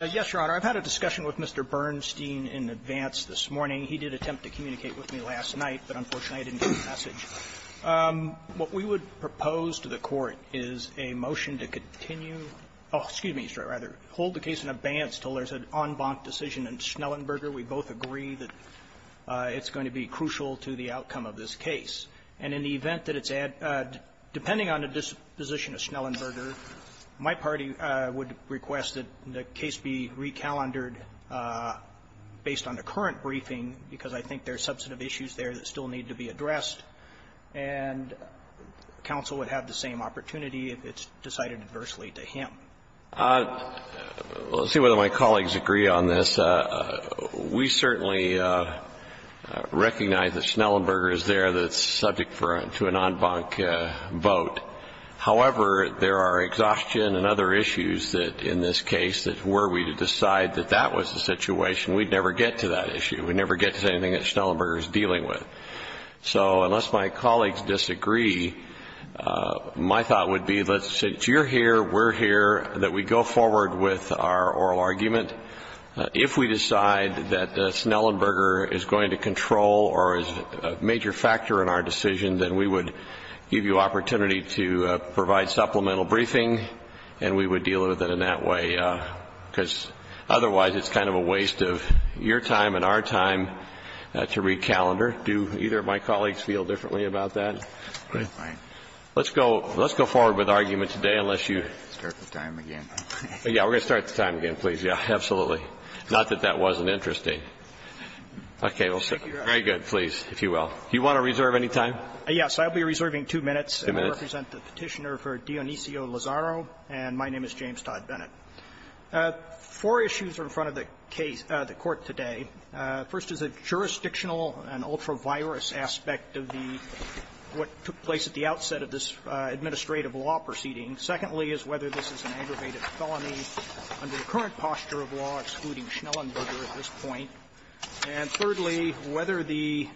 Yes, Your Honor. I've had a discussion with Mr. Bernstein in advance this morning. He did attempt to communicate with me last night, but unfortunately I didn't get a message. What we would propose to the Court is a motion to continue, excuse me, hold the case in advance until there's an en banc decision in Schnellenberger. We both agree that it's going to be crucial to the outcome of this case. And in the event that it's at, depending on the disposition of Schnellenberger, my party would request that the case be re-calendared based on the current briefing, because I think there are substantive issues there that still need to be addressed, and counsel would have the same opportunity if it's decided adversely to him. Let's see whether my colleagues agree on this. We certainly recognize that Schnellenberger is there that's subject to an en banc vote. However, there are exhaustion and other issues that in this case that were we to decide that that was the situation, we'd never get to that issue. We'd never get to anything that Schnellenberger is dealing with. So unless my colleagues disagree, my thought would be, since you're here, we're here, that we go forward with our oral argument. If we decide that Schnellenberger is going to control or is a major factor in our decision, then we would give you opportunity to provide supplemental briefing, and we would deal with it in that way. Because otherwise, it's kind of a waste of your time and our time to re-calendar. Do either of my colleagues feel differently about that? Let's go forward with argument today, unless you start the time again. Yeah, we're going to start the time again, please. Yeah, absolutely. Not that that wasn't interesting. Okay, very good, please, if you will. Do you want to reserve any time? Yes, I'll be reserving two minutes. Two minutes. I represent the Petitioner for Dionisio Lazzaro, and my name is James Todd Bennett. Four issues are in front of the case of the Court today. First is a jurisdictional and ultra-virus aspect of the what took place at the outset of this administrative law proceeding. Secondly is whether this is an aggravated felony under the current posture of law excluding Schnellenberger at this point. And thirdly, whether the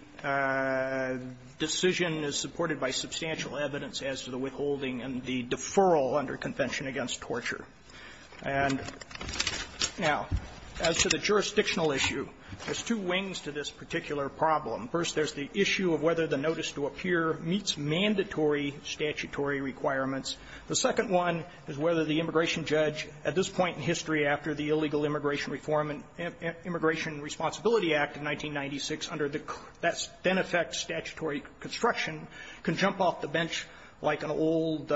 decision is supported by substantial evidence as to the withholding and the deferral under Convention Against Torture. And now, as to the jurisdictional issue, there's two wings to this particular problem. First, there's the issue of whether the notice to appear meets mandatory statutory requirements. The second one is whether the immigration judge at this point in history after the Ira-Ira Responsibility Act of 1996 under the then-effect statutory construction can jump off the bench like an old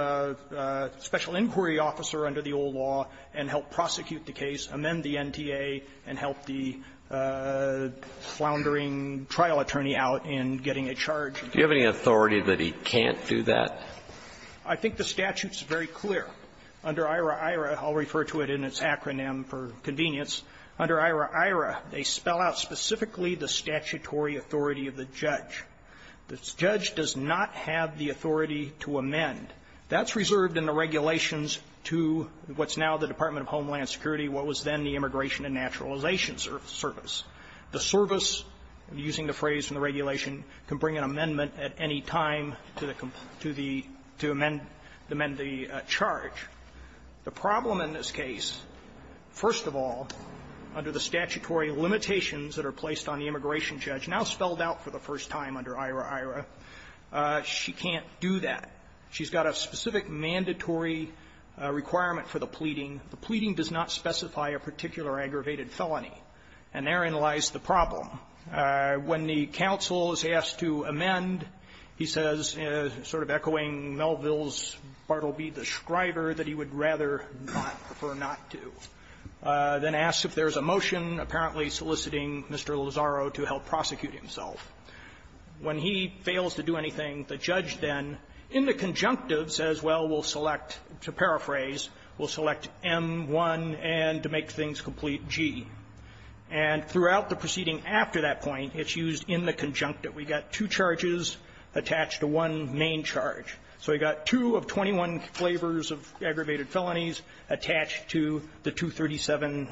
special inquiry officer under the old law and help prosecute the case, amend the NTA, and help the floundering trial attorney out in getting a charge. Do you have any authority that he can't do that? I think the statute's very clear. Under Ira-Ira, I'll refer to it in its acronym for convenience. Under Ira-Ira, they spell out specifically the statutory authority of the judge. The judge does not have the authority to amend. That's reserved in the regulations to what's now the Department of Homeland Security, what was then the Immigration and Naturalization Service. The service, using the phrase in the regulation, can bring an amendment at any time to the com to the to amend the charge. The problem in this case, first of all, under the statutory limitations that are placed on the immigration judge, now spelled out for the first time under Ira-Ira, she can't do that. She's got a specific mandatory requirement for the pleading. The pleading does not specify a particular aggravated felony. And therein lies the problem. When the counsel is asked to amend, he says, sort of echoing Melville's Bartleby the scriber that he would rather not, prefer not to, then asks if there's a motion apparently soliciting Mr. Lozaro to help prosecute himself. When he fails to do anything, the judge then, in the conjunctive, says, well, we'll select, to paraphrase, we'll select M-1 and to make things complete, G. And throughout the proceeding after that point, it's used in the conjunctive. We got two charges attached to one main charge. So we got two of 21 flavors of aggravated felonies attached to the 237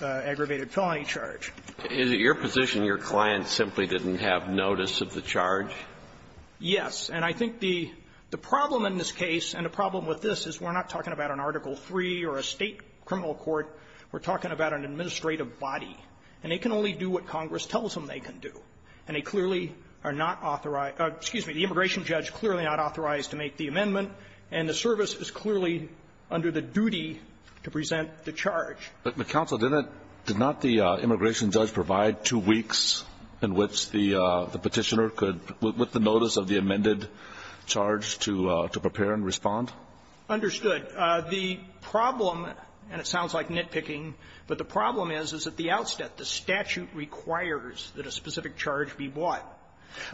aggravated felony charge. Is it your position your client simply didn't have notice of the charge? Yes. And I think the problem in this case and the problem with this is we're not talking about an Article III or a State criminal court. We're talking about an administrative body. And they can only do what Congress tells them they can do. And they clearly are not authorized to make the amendment, and the service is clearly under the duty to present the charge. But, counsel, did not the immigration judge provide two weeks in which the Petitioner could, with the notice of the amended charge, to prepare and respond? Understood. The problem, and it sounds like nitpicking, but the problem is, is at the outset the statute requires that a specific charge be bought.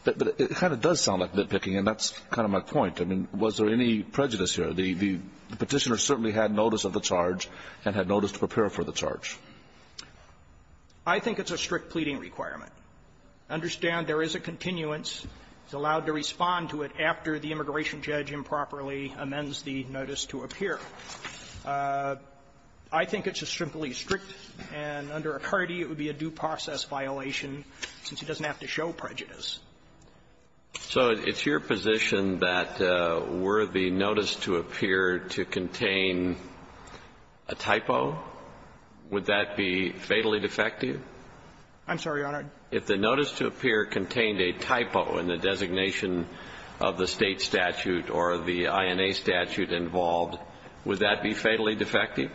But it kind of does sound like nitpicking, and that's kind of my point. I mean, was there any prejudice here? The Petitioner certainly had notice of the charge and had notice to prepare for the charge. I think it's a strict pleading requirement. Understand there is a continuance. It's allowed to respond to it after the immigration judge improperly amends the notice to appear. I think it's a simply strict, and under Acardi, it would be a due process violation since he doesn't have to show prejudice. So it's your position that were the notice to appear to contain a typo, would that be fatally defective? I'm sorry, Your Honor. If the notice to appear contained a typo in the designation of the State statute or the INA statute involved, would that be fatally defective?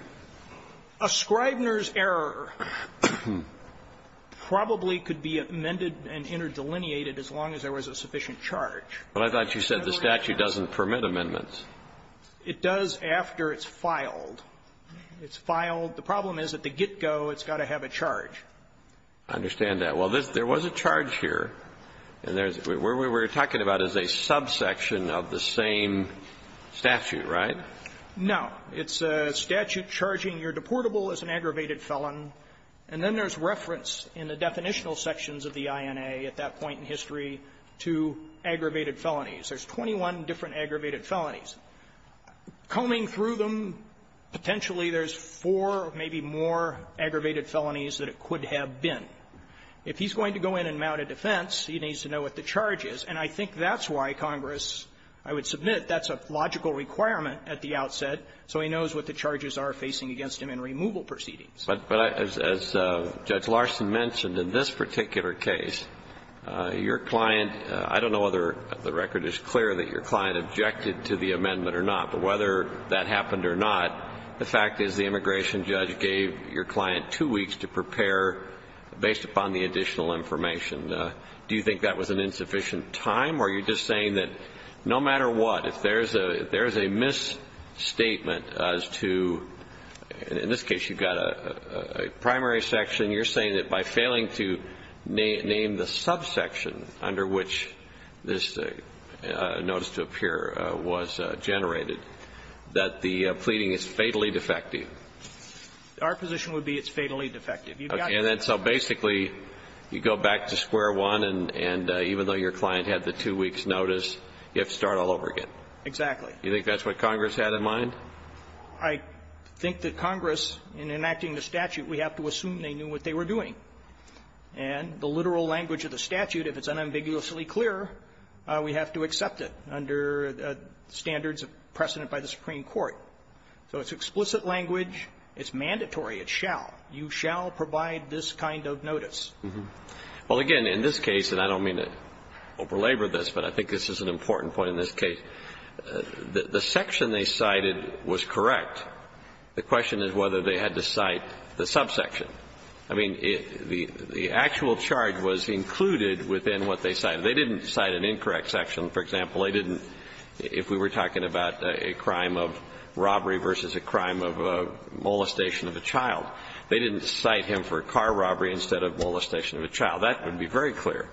A Scribner's error probably could be amended and interdelineated as long as there was a sufficient charge. But I thought you said the statute doesn't permit amendments. It does after it's filed. It's filed. The problem is at the get-go, it's got to have a charge. I understand that. Well, there was a charge here. And there's we're talking about as a subsection of the same statute, right? No. It's a statute charging your deportable as an aggravated felon. And then there's reference in the definitional sections of the INA at that point in history to aggravated felonies. There's 21 different aggravated felonies. Combing through them, potentially there's four, maybe more, aggravated felonies that it could have been. If he's going to go in and mount a defense, he needs to know what the charge is. And I think that's why Congress, I would submit, that's a logical requirement at the outset, so he knows what the charges are facing against him in removal proceedings. But as Judge Larson mentioned, in this particular case, your client, I don't know whether the record is clear that your client objected to the amendment or not, but whether that happened or not, the fact is the immigration judge gave your client two weeks to prepare based upon the additional information. Do you think that was an insufficient time, or are you just saying that no matter what, if there's a misstatement as to, in this case, you've got a primary section, you're saying that by failing to name the subsection under which this notice to appear was generated, that the pleading is fatally defective? Our position would be it's fatally defective. Okay. And so basically, you go back to square one, and even though your client had the two weeks' notice, you have to start all over again. Exactly. Do you think that's what Congress had in mind? I think that Congress, in enacting the statute, we have to assume they knew what they were doing. And the literal language of the statute, if it's unambiguously clear, we have to accept it under standards of precedent by the Supreme Court. So it's explicit language. It's mandatory. It shall. You shall provide this kind of notice. Well, again, in this case, and I don't mean to over-labor this, but I think this is an important point in this case, the section they cited was correct. The question is whether they had to cite the subsection. I mean, the actual charge was included within what they cited. They didn't cite an incorrect section. For example, they didn't, if we were talking about a crime of robbery versus a crime of a molestation of a child, they didn't cite him for a car robbery instead of molestation of a child. That would be very clear.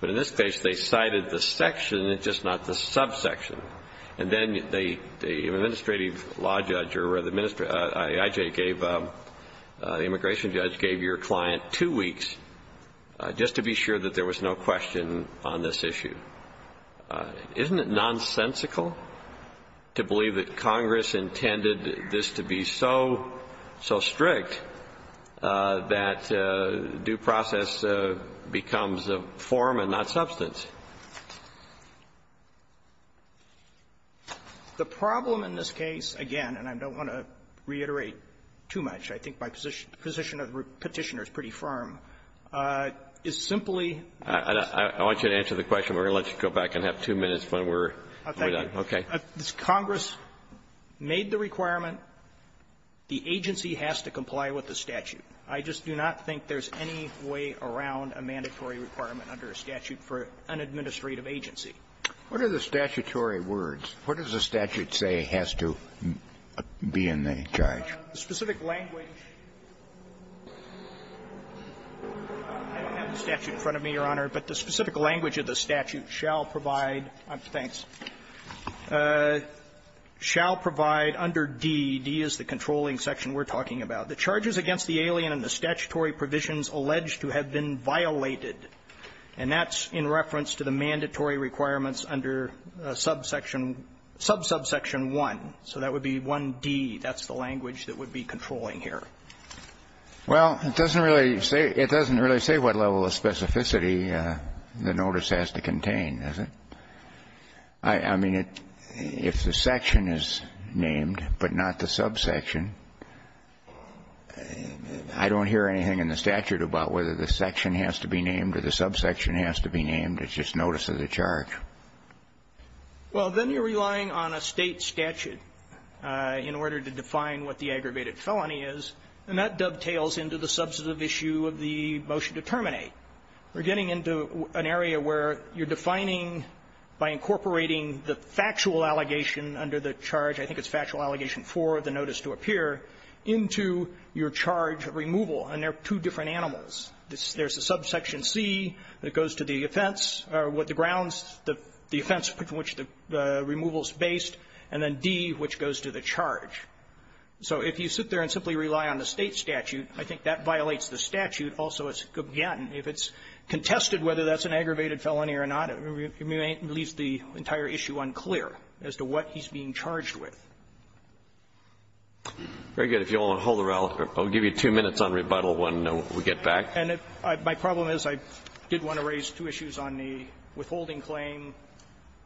But in this case, they cited the section, just not the subsection. And then the administrative law judge or the I.J. gave, the immigration judge gave your client two weeks just to be sure that there was no question on this issue. Isn't it nonsensical to believe that Congress intended this to be so, so strict that due process becomes a form and not substance? The problem in this case, again, and I don't want to reiterate too much, I think my position of the Petitioner is pretty firm, is simply the question. Kennedy, if you can answer the question, we're going to let you go back and have two minutes when we're done. Okay. Thank you. Congress made the requirement. The agency has to comply with the statute. I just do not think there's any way around a mandatory requirement under a statute for an administrative agency. What are the statutory words? What does the statute say has to be in the charge? The specific language of the statute in front of me, Your Honor, but the specific language of the statute shall provide, thanks, shall provide under D, D is the controlling section we're talking about, the charges against the alien and the statutory provisions alleged to have been violated, and that's in reference to the mandatory requirements under subsection 1. So that would be 1D, that's the language that would be controlling here. Well, it doesn't really say what level of specificity the notice has to contain, does it? I mean, if the section is named but not the subsection, I don't hear anything in the statute about whether the section has to be named or the subsection has to be named. It's just notice of the charge. Well, then you're relying on a State statute in order to define what the aggravated felony is, and that dovetails into the substantive issue of the motion to terminate. We're getting into an area where you're defining, by incorporating the factual allegation under the charge, I think it's factual allegation 4 of the notice to appear, into your charge of removal, and they're two different animals. There's a subsection C that goes to the offense or what the grounds, the offense from which the removal is based, and then D, which goes to the charge. So if you sit there and simply rely on the State statute, I think that violates the statute also as it could be. And if it's contested whether that's an aggravated felony or not, it leaves the entire issue unclear as to what he's being charged with. Very good. If you want to hold it, I'll give you two minutes on rebuttal when we get back. And my problem is I did want to raise two issues on the withholding claim.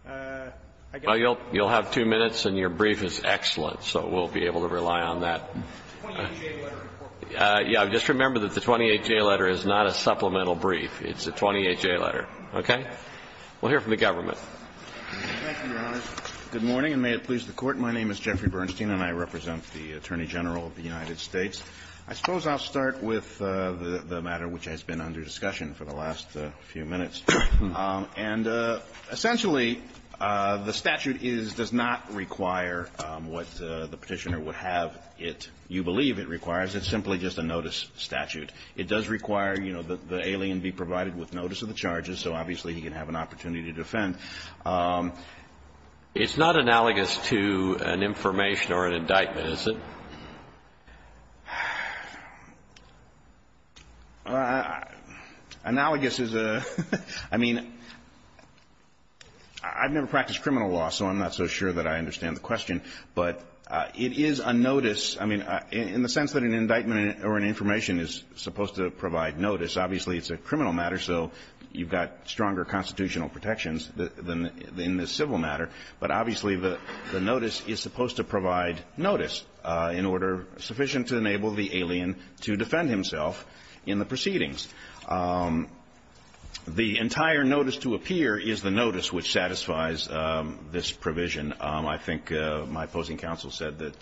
I guess I'll move on. Well, you'll have two minutes, and your brief is excellent, so we'll be able to rely on that. The 28J letter. Yeah. Just remember that the 28J letter is not a supplemental brief. It's a 28J letter. Okay? We'll hear from the government. Thank you, Your Honor. Good morning, and may it please the Court. My name is Jeffrey Bernstein, and I represent the Attorney General of the United States. I suppose I'll start with the matter which has been under discussion for the last few minutes. And essentially, the statute is does not require what the Petitioner would have it you believe it requires. It's simply just a notice statute. It does require, you know, the alien be provided with notice of the charges, so obviously he can have an opportunity to defend. It's not analogous to an information or an indictment, is it? Analogous is a — I mean, I've never practiced criminal law, so I'm not so sure that I understand the question, but it is a notice, I mean, in the sense that an indictment or an information is supposed to provide notice. Obviously, it's a criminal matter, so you've got stronger constitutional protections than in the civil matter. But obviously, the notice is supposed to provide notice in order — sufficient to enable the alien to defend himself in the proceedings. The entire notice to appear is the notice which satisfies this provision. I think my opposing counsel said that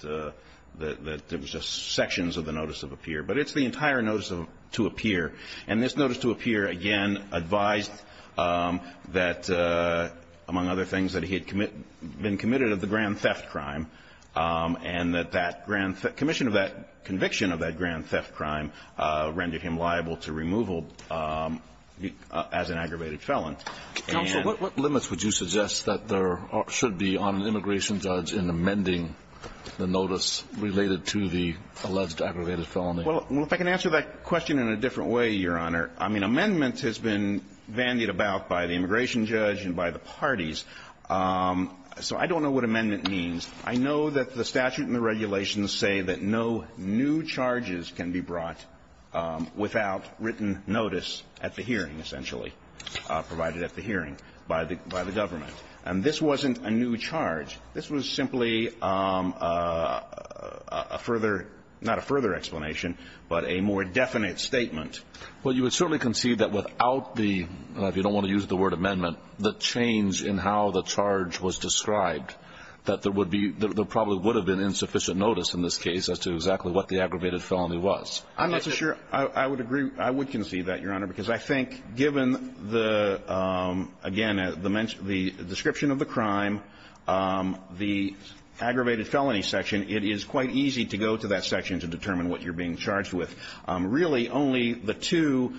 there was just sections of the notice of appear. But it's the entire notice of — to appear. And this notice to appear, again, advised that, among other things, that he had been committed of the grand theft crime and that that grand — commission of that conviction of that grand theft crime rendered him liable to removal as an aggravated felon. Counsel, what limits would you suggest that there should be on an immigration judge in amending the notice related to the alleged aggravated felony? Well, if I can answer that question in a different way, Your Honor, I mean, amendments have been bandied about by the immigration judge and by the parties. So I don't know what amendment means. I know that the statute and the regulations say that no new charges can be brought without written notice at the hearing, essentially, provided at the hearing by the government. And this wasn't a new charge. This was simply a further — not a further explanation, but a more definite statement. Well, you would certainly concede that without the — if you don't want to use the word amendment — the change in how the charge was described, that there would be — there probably would have been insufficient notice in this case as to exactly what the aggravated felony was. I'm not so sure I would agree — I would concede that, Your Honor, because I think, given the — again, the description of the crime, the aggravated felony section, it is quite easy to go to that section to determine what you're being charged with. Really, only the two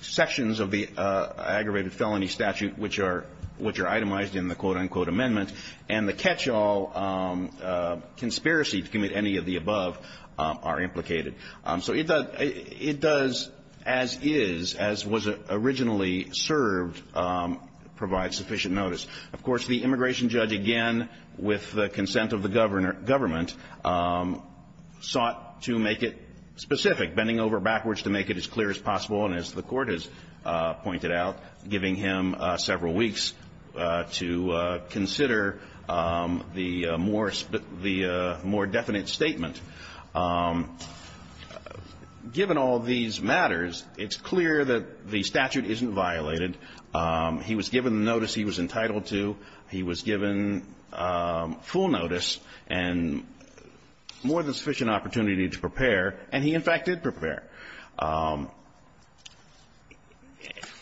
sections of the aggravated felony statute, which are itemized in the quote-unquote amendment, and the catch-all conspiracy to commit any of the above, are implicated. So it does, as is, as was originally served, provide sufficient notice. Of course, the immigration judge, again, with the consent of the governor — government, sought to make it specific, bending over backwards to make it as clear as possible, and as the Court has pointed out, giving him several weeks to consider the more — the more definite statement. Given all these matters, it's clear that the statute isn't violated. He was given the notice he was entitled to. He was given full notice and more than sufficient opportunity to prepare. And he, in fact, did prepare.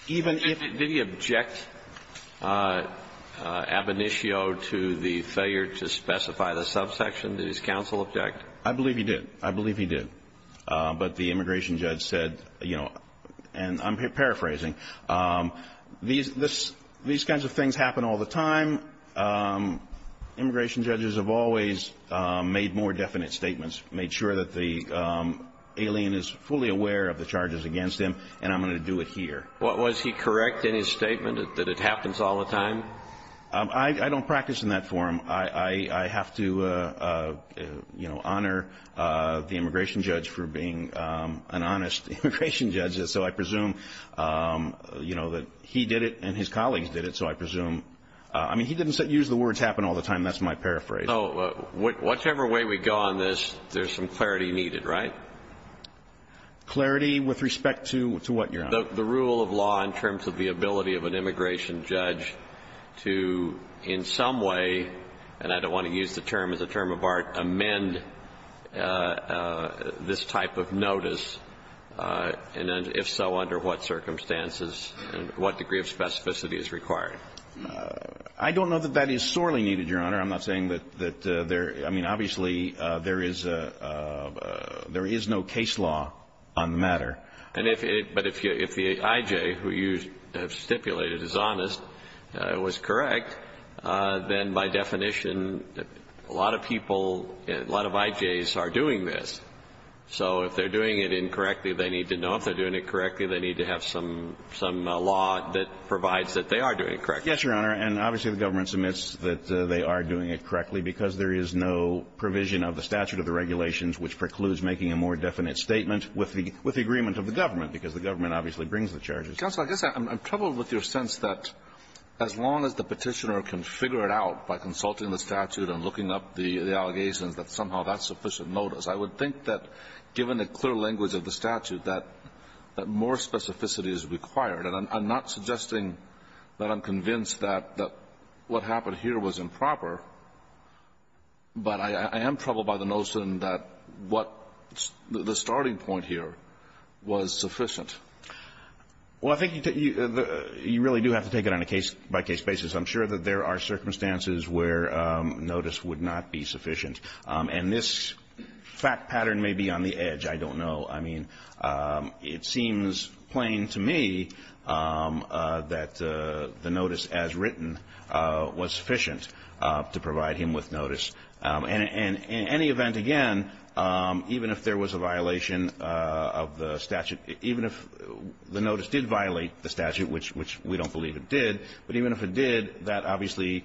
Even if — Did he object, ab initio, to the failure to specify the subsection? Did his counsel object? I believe he did. I believe he did. But the immigration judge said, you know, and I'm paraphrasing, these — these kinds of things happen all the time. Immigration judges have always made more definite statements, made sure that the alien is fully aware of the charges against him. And I'm going to do it here. Was he correct in his statement that it happens all the time? I don't practice in that form. I have to, you know, honor the immigration judge for being an honest immigration judge. So I presume, you know, that he did it and his colleagues did it. So I presume — I mean, he didn't use the words happen all the time. That's my paraphrase. So whichever way we go on this, there's some clarity needed, right? Clarity with respect to what, Your Honor? The rule of law in terms of the ability of an immigration judge to, in some way — and I don't want to use the term as a term of art — amend this type of notice, and if so, under what circumstances and what degree of specificity is required? I don't know that that is sorely needed, Your Honor. I'm not saying that there — I mean, obviously, there is — there is no case law on the matter. And if — but if the I.J. who you have stipulated is honest, was correct, then by definition, a lot of people, a lot of I.J.'s are doing this. So if they're doing it incorrectly, they need to know if they're doing it correctly. They need to have some law that provides that they are doing it correctly. Yes, Your Honor. And obviously, the government submits that they are doing it correctly because there is no provision of the statute of the regulations which precludes making a more significant amendment of the government, because the government obviously brings the charges. Counsel, I guess I'm troubled with your sense that as long as the Petitioner can figure it out by consulting the statute and looking up the allegations, that somehow that's sufficient notice. I would think that, given the clear language of the statute, that more specificity is required. And I'm not suggesting that I'm convinced that what happened here was improper, but I am troubled by the notion that what the starting point here was sufficient. Well, I think you really do have to take it on a case-by-case basis. I'm sure that there are circumstances where notice would not be sufficient. And this fact pattern may be on the edge. I don't know. I mean, it seems plain to me that the notice as written was sufficient. And I think that's what we're trying to do here, is to provide him with notice. And in any event, again, even if there was a violation of the statute, even if the notice did violate the statute, which we don't believe it did, but even if it did, that obviously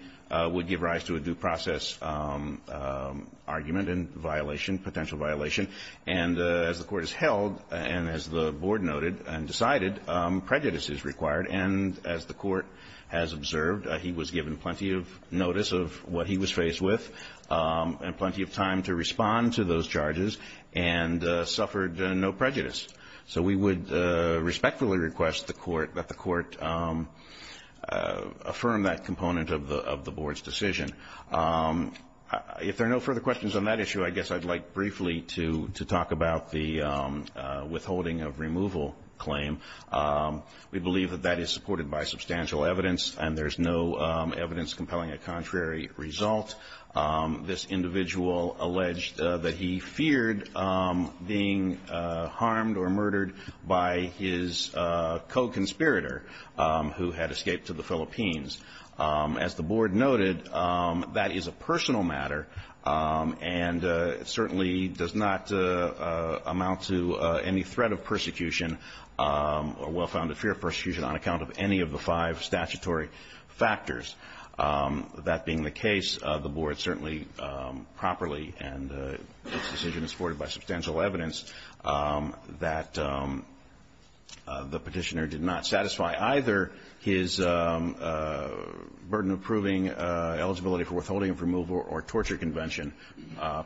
would give rise to a due process argument and violation, potential violation. And as the Court has held, and as the Board noted and decided, prejudice is required. And as the Court has observed, he was given plenty of notice of what he was faced with and plenty of time to respond to those charges and suffered no prejudice. So we would respectfully request that the Court affirm that component of the Board's decision. If there are no further questions on that issue, I guess I'd like briefly to talk about the withholding of removal claim. We believe that that is supported by substantial evidence, and there's no evidence compelling a contrary result. This individual alleged that he feared being harmed or murdered by his co-conspirator who had escaped to the Philippines. As the Board noted, that is a personal matter and certainly does not amount to any threat of persecution or well-founded fear of persecution on account of any of the five statutory factors. That being the case, the Board certainly properly and its decision is supported by substantial evidence that the Petitioner did not satisfy either his or his co-conspirator's burden of proving eligibility for withholding of removal or torture convention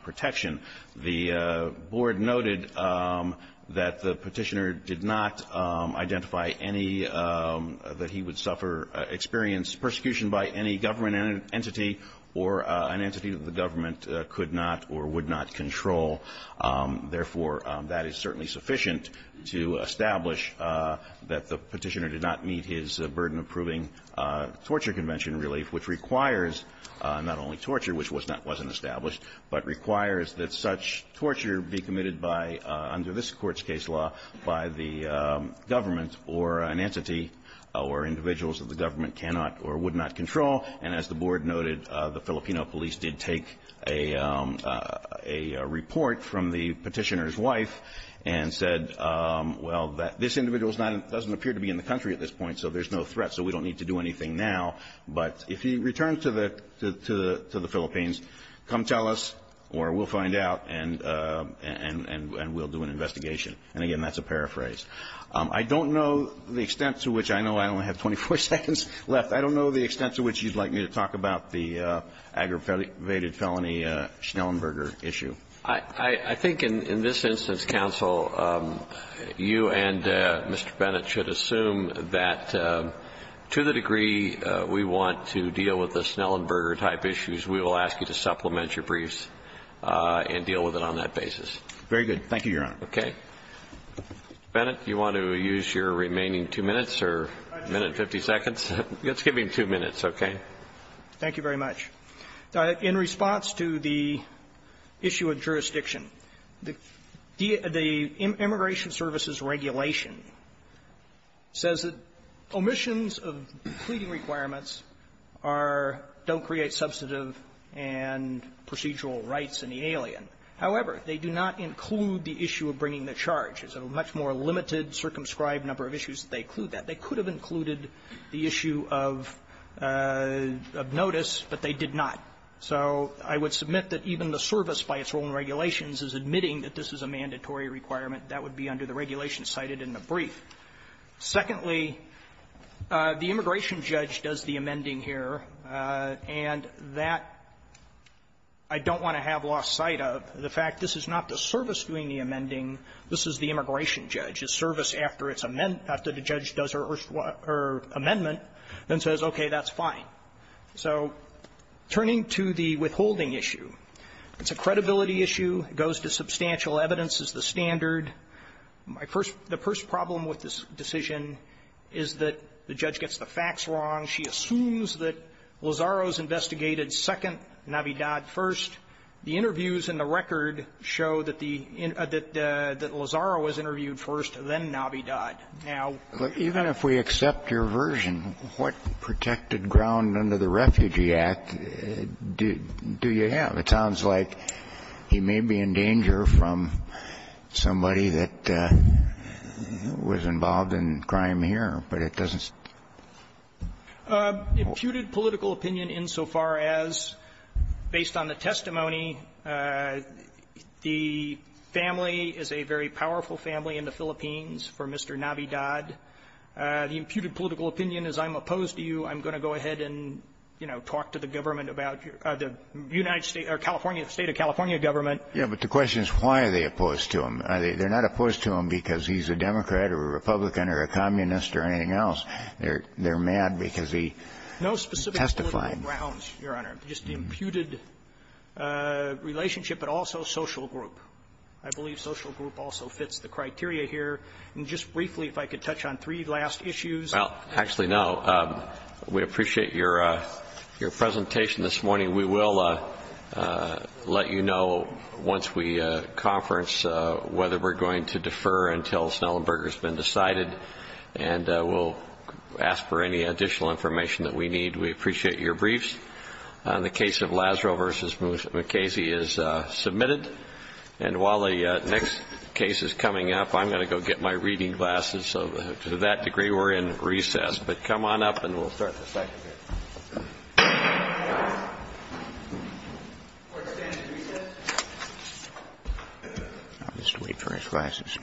protection. The Board noted that the Petitioner did not identify any that he would suffer experience persecution by any government entity or an entity that the government could not or would not control. Therefore, that is certainly sufficient to establish that the Petitioner did not meet his burden of proving torture convention relief, which requires not only torture, which wasn't established, but requires that such torture be committed by, under this Court's case law, by the government or an entity or individuals that the government cannot or would not control. And as the Board noted, the Filipino police did take a report from the Petitioner's wife and said, well, this individual doesn't appear to be in the country at this point, so there's no threat, so we don't need to do anything now. But if he returns to the Philippines, come tell us or we'll find out and we'll do an investigation. And again, that's a paraphrase. I don't know the extent to which you'd like me to talk about the aggravated felony Schnellenberger issue. I think in this instance, counsel, you and Mr. Bennett should assume that to the degree we want to deal with the Schnellenberger-type issues, we will ask you to supplement your briefs and deal with it on that basis. Very good. Thank you, Your Honor. Okay. Mr. Bennett, do you want to use your remaining two minutes or minute and 50 seconds? Let's give him two minutes, okay? Thank you very much. In response to the issue of jurisdiction, the Immigration Services Regulation says that omissions of pleading requirements are don't create substantive and procedural rights in the alien. However, they do not include the issue of bringing the charge. It's a much more limited, circumscribed number of issues that they include that. They could have included the issue of notice, but they did not. So I would submit that even the service, by its own regulations, is admitting that this is a mandatory requirement. That would be under the regulation cited in the brief. Secondly, the immigration judge does the amending here, and that I don't want to have lost sight of, the fact this is not the service doing the amending. This is the immigration judge. This is the immigration judge's service after it's amended, after the judge does her amendment, then says, okay, that's fine. So turning to the withholding issue, it's a credibility issue. It goes to substantial evidence as the standard. My first the first problem with this decision is that the judge gets the facts wrong. She assumes that Lazaro's investigated Second Navidad first. The interviews in the record show that the Lazaro was interviewed first, then Navidad. Now ---- Kennedy, even if we accept your version, what protected ground under the Refugee Act do you have? It sounds like he may be in danger from somebody that was involved in crime here, but it doesn't ---- Imputed political opinion insofar as, based on the testimony, the family is a very powerful family in the Philippines for Mr. Navidad. The imputed political opinion is I'm opposed to you. I'm going to go ahead and, you know, talk to the government about the United States or California, the State of California government. Yeah, but the question is why are they opposed to him? They're not opposed to him because he's a Democrat or a Republican or a communist or anything else. They're mad because he testified. No specific political grounds, Your Honor. Just the imputed relationship, but also social group. I believe social group also fits the criteria here. And just briefly, if I could touch on three last issues. Well, actually, no. We appreciate your presentation this morning. We will let you know once we conference whether we're going to defer until Snellenberger has been decided. And we'll ask for any additional information that we need. We appreciate your briefs. The case of Lazaro v. McKayse is submitted. And while the next case is coming up, I'm going to go get my reading glasses. So to that degree, we're in recess. But come on up and we'll start the second hearing. Court is standing at recess. I'll just wait for his glasses. Thank you, Your Honor.